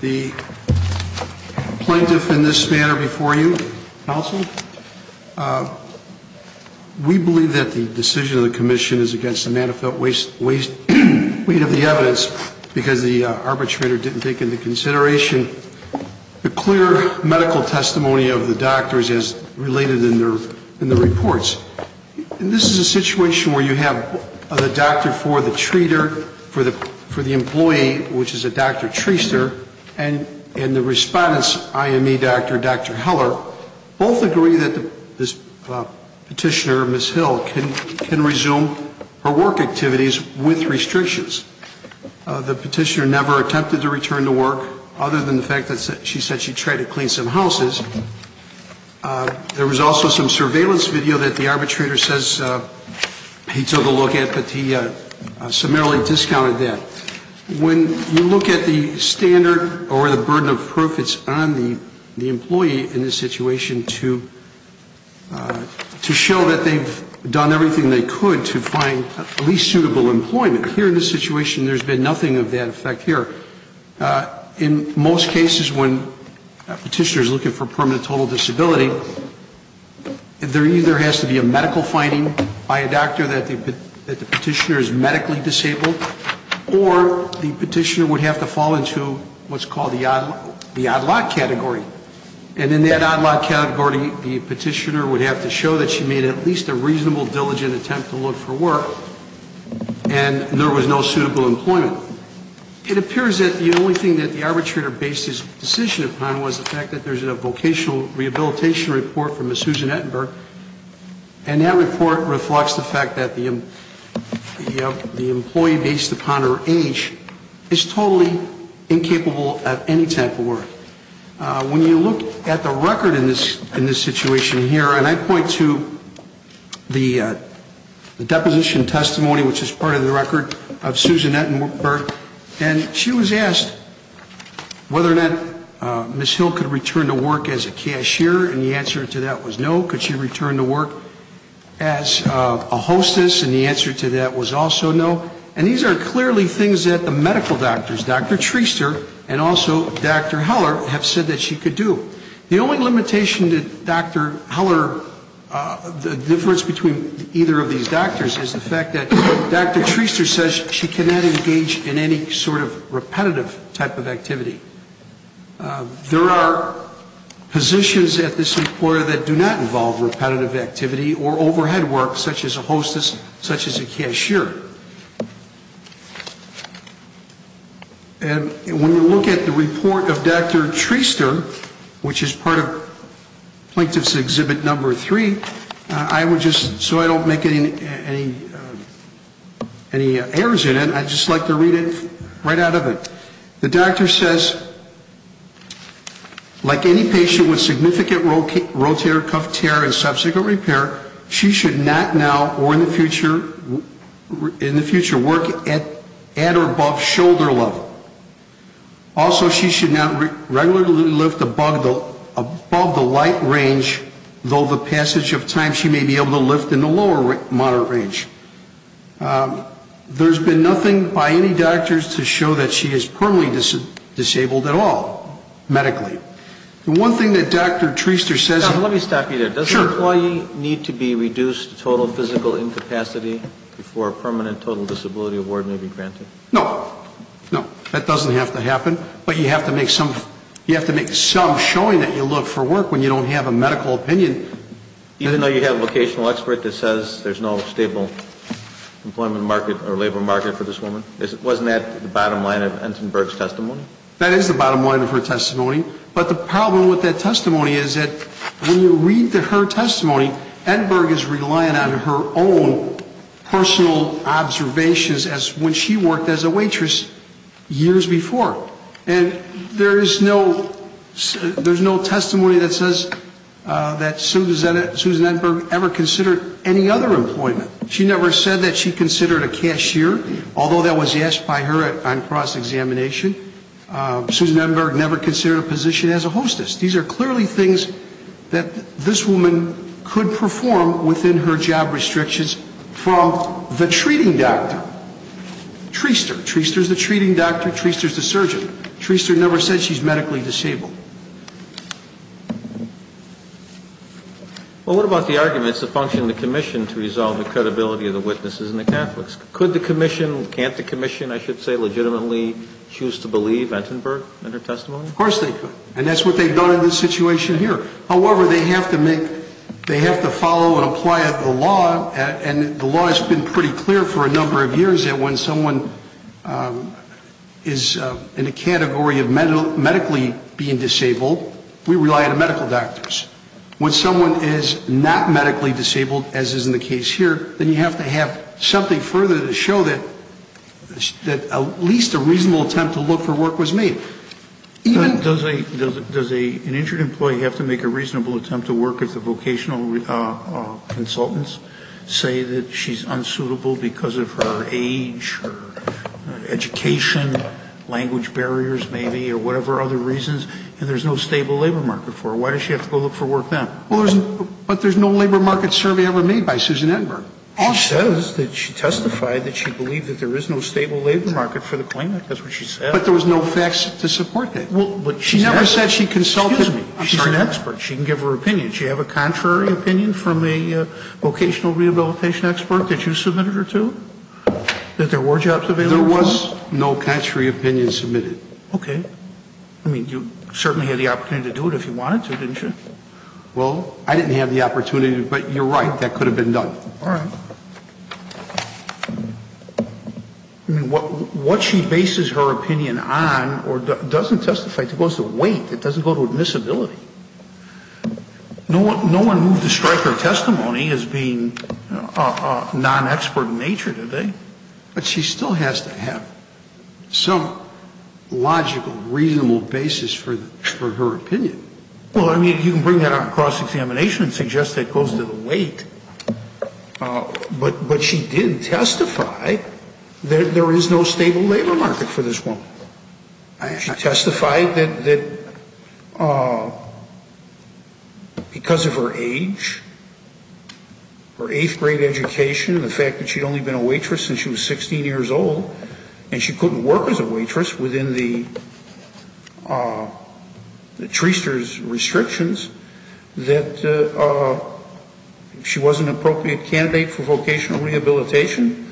The plaintiff in this manner before you, counsel, we believe that the decision of the commission is against the manifest weight of the evidence because the arbitrator didn't take into consideration the clear medical testimony of the doctors as related in the reports. This is a situation where you have the doctor for the treater, for the employee, which is a Dr. Treister, and the respondent's IME doctor, Dr. Heller, both agree that this petitioner, Ms. Hill, can resume her work activities with restrictions. The petitioner never attempted to return to work, other than the fact that she said she tried to clean some houses. There was also some surveillance video that the arbitrator says he took a look at, but he summarily discounted that. When you look at the standard or the burden of proof it's on the employee in this situation to show that they've done everything they could to find at least suitable employment, here in this situation there's been nothing of that effect here. In most cases when a petitioner is looking for permanent total disability, there either has to be a medical finding by a doctor that the petitioner is medically disabled, or the petitioner would have to fall into what's called the odd lot category. And in that odd lot category the petitioner would have to show that she made at least a reasonable, diligent attempt to look for work, and there was no suitable employment. It appears that the only thing that the arbitrator based his decision upon was the fact that there's a vocational rehabilitation report from Ms. Susan Ettenberg, and that report reflects the fact that the employee based upon her age is totally incapable of any type of work. When you look at the record in this situation here, and I point to the deposition testimony which is part of the record of Susan Ettenberg, and she was asked whether or not Ms. Hill could return to work as a cashier, and the answer to that was no. Could she return to work as a hostess, and the answer to that was also no. And these are clearly things that the medical doctors, Dr. Treister and also Dr. Heller, have said that she could do. The only limitation that Dr. Heller, the difference between either of these doctors is the fact that Dr. Treister says she cannot engage in any sort of repetitive type of activity. There are positions at this employer that do not involve repetitive activity or overhead work such as a hostess, such as a cashier. And when you look at the report of Dr. Treister, which is part of Plaintiff's Exhibit Number 3, I would just, so I don't make any errors in it, I'd just like to read it right out of it. The doctor says, like any patient with a disability, should not now or in the future work at or above shoulder level. Also, she should not regularly lift above the light range, though the passage of time she may be able to lift in the lower moderate range. There's been nothing by any doctors to show that she is permanently disabled at all, medically. The one thing that Dr. Treister says... Let me stop you there. Sure. Does an employee need to be reduced to total physical incapacity before a permanent total disability award may be granted? No. No. That doesn't have to happen. But you have to make some showing that you look for work when you don't have a medical opinion. Even though you have a vocational expert that says there's no stable employment market or labor market for this woman? Wasn't that the bottom line of Entenberg's testimony? That is the bottom line of her testimony. But the problem with that testimony is that when you read her testimony, Entenberg is relying on her own personal observations as when she worked as a waitress years before. And there is no... There's no testimony that says that Susan Entenberg ever considered any other employment. She never said that she considered a cashier, although that was asked by her on cross-examination. Susan Entenberg never considered a position as a hostess. These are clearly things that this woman could perform within her job restrictions from the treating doctor. Treister. Treister's the treating doctor. Treister's the surgeon. Treister never said she's medically disabled. Well, what about the arguments that functioned in the commission to resolve the credibility of the witnesses and the Catholics? Could the commission, can't the commission, I should say, legitimately choose to believe Entenberg in her testimony? Of course they could. And that's what they've done in this situation here. However, they have to make, they have to follow and apply the law, and the law has been pretty clear for a number of years that when someone is in a category of medically being disabled, we rely on medical doctors. When someone is not medically disabled, as is the case here, then you have to have something further to show that at least a reasonable attempt to look for work was made. Does an injured employee have to make a reasonable attempt to work if the vocational consultants say that she's unsuitable because of her age, her education, language barriers maybe, or whatever other reasons, and there's no stable labor market for her? Why does she have to go look for work then? Well, there's, but there's no labor market survey ever made by Susan Entenberg. She says that she testified that she believed that there is no stable labor market for the claimant. That's what she said. But there was no facts to support that. Well, but she never said she consulted me. She's an expert. She can give her opinion. She have a contrary opinion from a vocational rehabilitation expert that you submitted her to? That there were jobs available for them? There was no contrary opinion submitted. Okay. I mean, you certainly had the opportunity to do it if you wanted to, didn't you? Well, I didn't have the opportunity, but you're right. That could have been done. All right. I mean, what she bases her opinion on or doesn't testify, it goes to weight. It doesn't go to admissibility. No one moved to strike her testimony as being a non-expert in nature, did they? But she still has to have some logical, reasonable basis for her opinion. Well, I mean, you can bring that on cross-examination and suggest that it goes to the weight. But she did testify that there is no stable labor market for this woman. She testified that because of her age, her eighth-grade education, the fact that she'd only been a waitress since she was 16 years old, and she couldn't work as a waitress within the treester's restrictions, that she wasn't an appropriate candidate for vocational rehabilitation,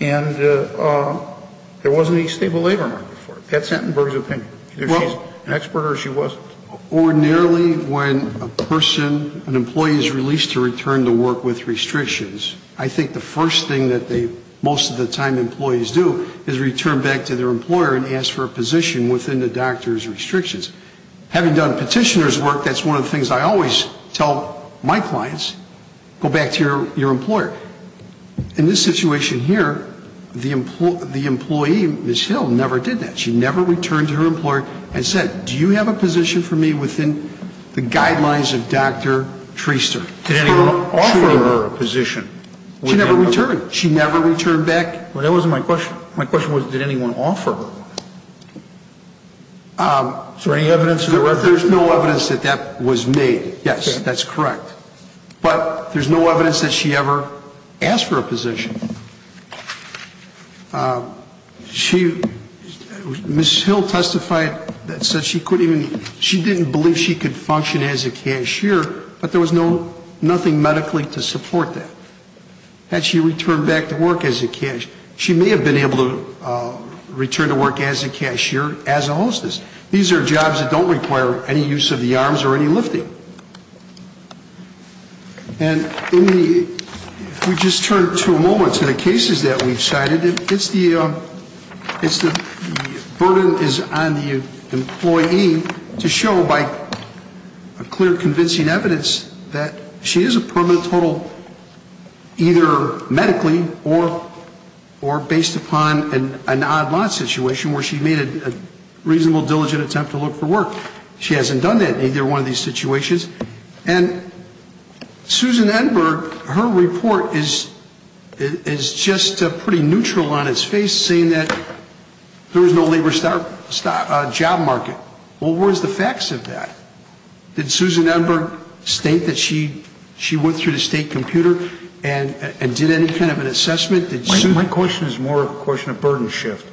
and there wasn't a stable labor market for her. That's Hattenberg's opinion. Either she's an expert or she wasn't. Ordinarily, when a person, an employee is released to return to work with restrictions, I think the first thing that they most of the time employees do is return back to their position within the doctor's restrictions. Having done Petitioner's work, that's one of the things I always tell my clients, go back to your employer. In this situation here, the employee, Ms. Hill, never did that. She never returned to her employer and said, do you have a position for me within the guidelines of Dr. Treaster? Did anyone offer her a position? She never returned. She never returned back. That wasn't my question. My question was, did anyone offer her one? Is there any evidence? There's no evidence that that was made. Yes, that's correct. But there's no evidence that she ever asked for a position. Ms. Hill testified that she didn't believe she could function as a cashier, but there was nothing medically to support that. Had she returned back to work as a cashier, she may have been able to return to work as a cashier, as a hostess. These are jobs that don't require any use of the arms or any lifting. And we just turned to a moment to the cases that we've cited. It's the burden is on the employee to show by a clear convincing evidence that she is a permanent total either medically or based upon an odd lot situation where she made a reasonable diligent attempt to look for work. She hasn't done that in either one of these situations. And Susan Enberg, her report is just pretty neutral on its face, saying that there is no labor job market. Well, where's the facts of that? Did Susan Enberg state that she went through the state computer and did any kind of an assessment? My question is more of a question of burden shift.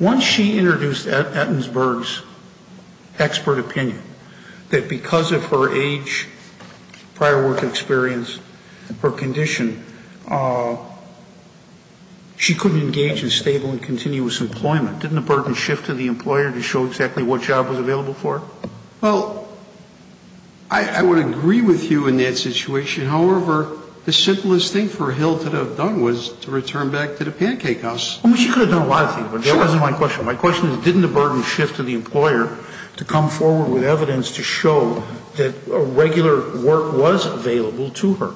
Once she introduced Atkinsburg's expert opinion, that because of her age, prior work experience, her condition, she couldn't engage in stable and continuous employment. Didn't the burden shift to the employer to show exactly what job was available for her? Well, I would agree with you in that situation. However, the simplest thing for Hill to have done was to return back to the pancake house. I mean, she could have done a lot of things, but that wasn't my question. My question is, didn't the burden shift to the employer to come forward with evidence to show that regular work was available to her,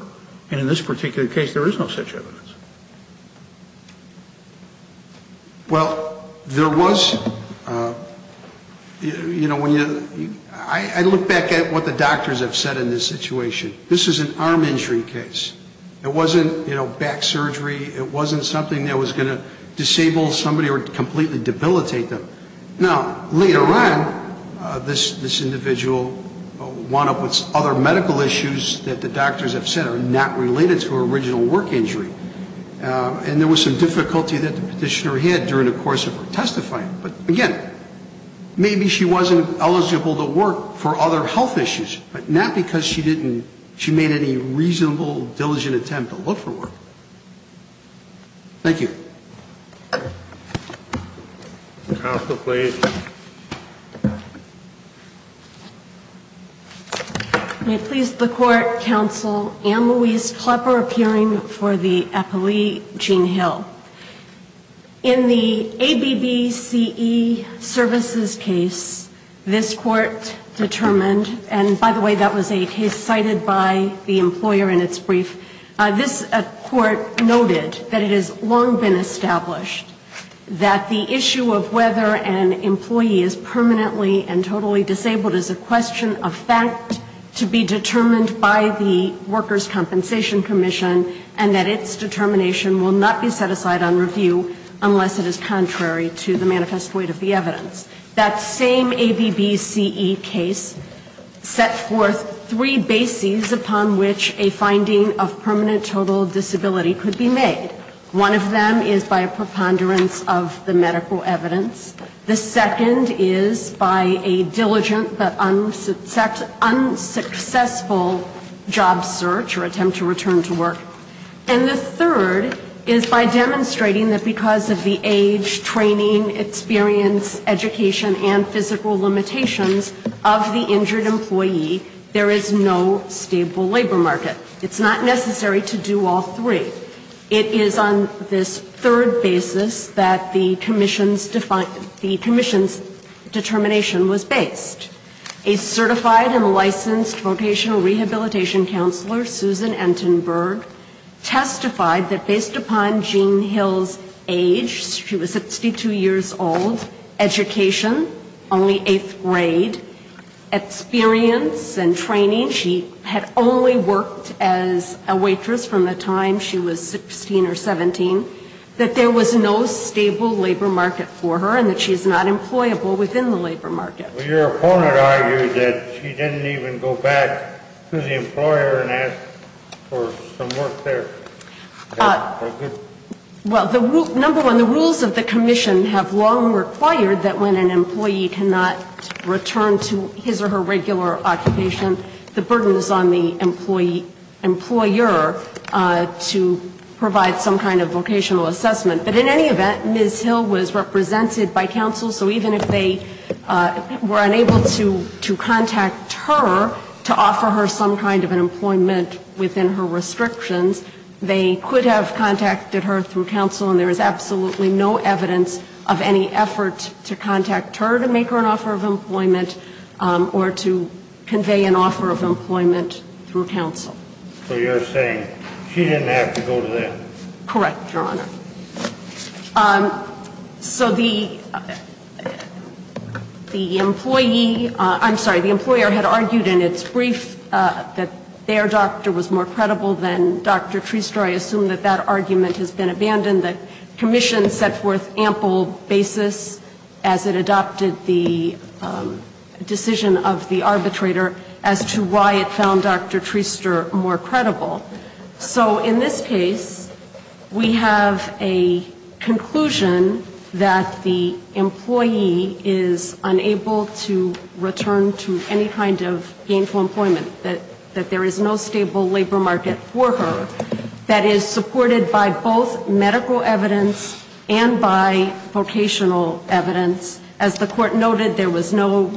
and in this particular case, there is no such evidence? Well, there was, you know, when you, I look back at what the doctors have said in this situation. This is an arm injury case. It wasn't, you know, back surgery. It wasn't something that was going to disable somebody or completely debilitate them. Now, later on, this individual wound up with other medical issues that the doctors have said are not related to her original work injury. And there was some difficulty that the petitioner had during the course of her testifying. But again, maybe she wasn't eligible to work for other health issues, but not because she didn't, she made any reasonable, diligent attempt to look for work. Thank you. Counsel, please. May it please the Court, Counsel, Ann Louise Klepper appearing for the appellee, Jean Hill. In the ABBCE services case, this Court determined, and by the way, that was a case cited by the employer in its brief. This Court noted that it has long been established that the issue of whether an employee is permanently and totally disabled is a question of fact to be determined by the Workers' Compensation Commission, and that its determination will not be set aside on review unless it is contrary to the manifest weight of the evidence. That same ABBCE case set forth three bases upon which a finding of permanent total disability could be made. One of them is by a preponderance of the medical evidence. The second is by a diligent but unsuccessful job search or attempt to return to work. And the third is by demonstrating that because of the age, training, experience, education, and physical limitations of the injured employee, there is no stable labor market. It's not necessary to do all three. It is on this third basis that the Commission's determination was based. A certified and licensed vocational rehabilitation counselor, Susan Entenberg, testified that based upon Jean Hill's age, she was 62 years old, education, only eighth grade, experience and training, she had only worked as a waitress from the time she was 16 or 17, that there was no stable labor market for her and that she's not employable within the labor market. Your opponent argued that she didn't even go back to the employer and ask for some work there. Well, number one, the rules of the Commission have long required that when an employee cannot return to his or her regular occupation, the burden is on the employer to provide some kind of vocational assessment. But in any event, Ms. Hill was represented by counsel, so even if they were unable to contact her to offer her some kind of an employment within her restrictions, they could have contacted her through counsel, and there is absolutely no evidence of any effort to contact her to make her an offer of employment or to convey an offer of employment through counsel. So you're saying she didn't have to go to them? Correct, Your Honor. So the employee, I'm sorry, the employer had argued in its brief that their doctor was more credible than Dr. Treaster. I assume that that argument has been abandoned. The Commission set forth ample basis as it adopted the decision of the arbitrator as to why it found Dr. Treaster more credible. So in this case, we have a conclusion that the employee is unable to return to any kind of gainful employment, that there is no stable labor market for her that is supported by both medical evidence and by vocational evidence. As the Court noted, there was no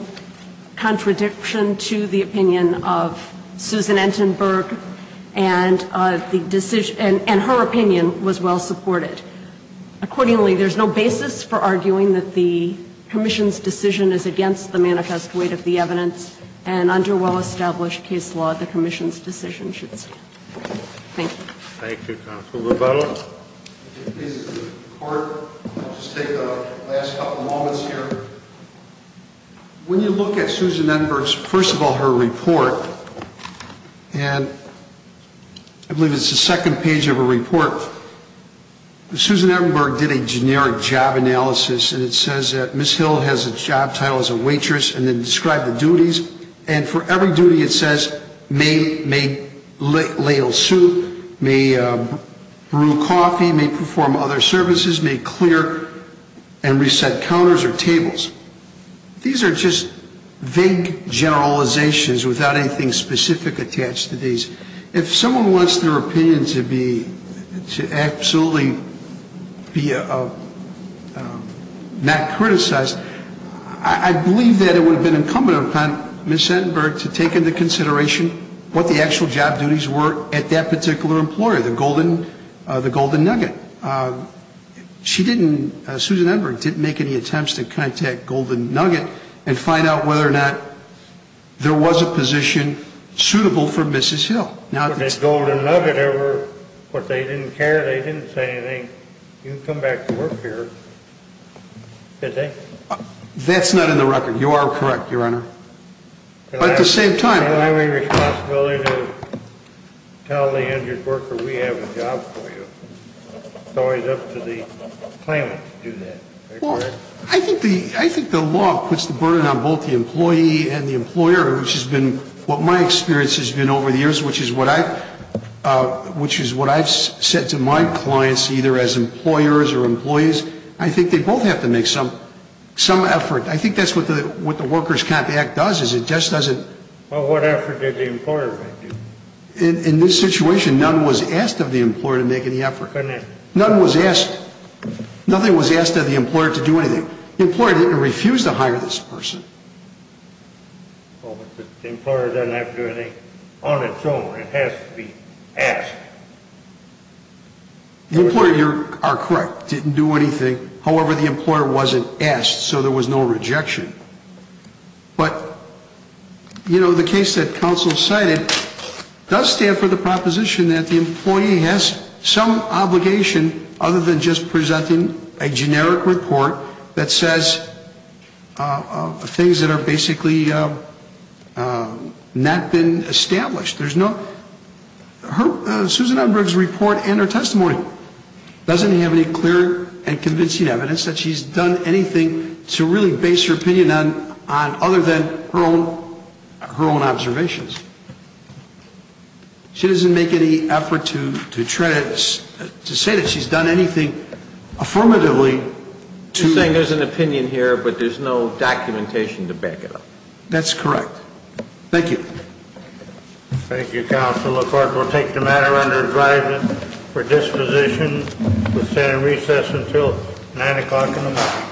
contradiction to the opinion of Susan Enberg, and her opinion was well supported. Accordingly, there is no basis for arguing that the Commission's decision is against the manifest weight of the evidence, and under well-established case law, the Commission's decision should stand. Thank you. Thank you, Counsel Lubello. If it pleases the Court, I'll just take the last couple of moments here. When you look at Susan Enberg's, first of all, her report, and I believe it's the second page of her report, Susan Enberg did a generic job analysis, and it says that Ms. Hill has a job title as a waitress, and then described the duties, and for every duty it says, may ladle soup, may brew coffee, may perform other services, may clear and reset counters or tables. These are just vague generalizations. Without anything specific attached to these, if someone wants their opinion to be, to absolutely be not criticized, I believe that it would have been incumbent upon Ms. Enberg to take into consideration what the actual job duties were at that particular employer, the Golden Nugget. She didn't, Susan Enberg, didn't make any attempts to contact Golden Nugget and find out whether or not there was a position suitable for Mrs. Hill. But if Golden Nugget ever, what, they didn't care, they didn't say anything, you can come back to work here, could they? That's not in the record. You are correct, Your Honor. But at the same time... Tell the injured worker, we have a job for you. It's always up to the client to do that. I think the law puts the burden on both the employee and the employer, which has been what my experience has been over the years, which is what I've said to my clients, either as employers or employees, I think they both have to make some effort. I think that's what the Workers' Compact does, is it just doesn't... Well, what effort did the employer make? In this situation, none was asked of the employer to make any effort. None was asked, nothing was asked of the employer to do anything. The employer didn't refuse to hire this person. Well, but the employer doesn't have to do anything on its own. It has to be asked. The employer, you are correct, didn't do anything. However, the employer wasn't asked, so there was no rejection. But, you know, the case that counsel cited does stand for the proposition that the employee has some obligation other than just presenting a generic report that says things that are basically not been established. There's no... Susan Edberg's report and her testimony doesn't have any clear and convincing evidence that she's done anything to really base her opinion on other than her own observations. She doesn't make any effort to say that she's done anything affirmatively to... You're saying there's an opinion here, but there's no documentation to back it up. That's correct. Thank you.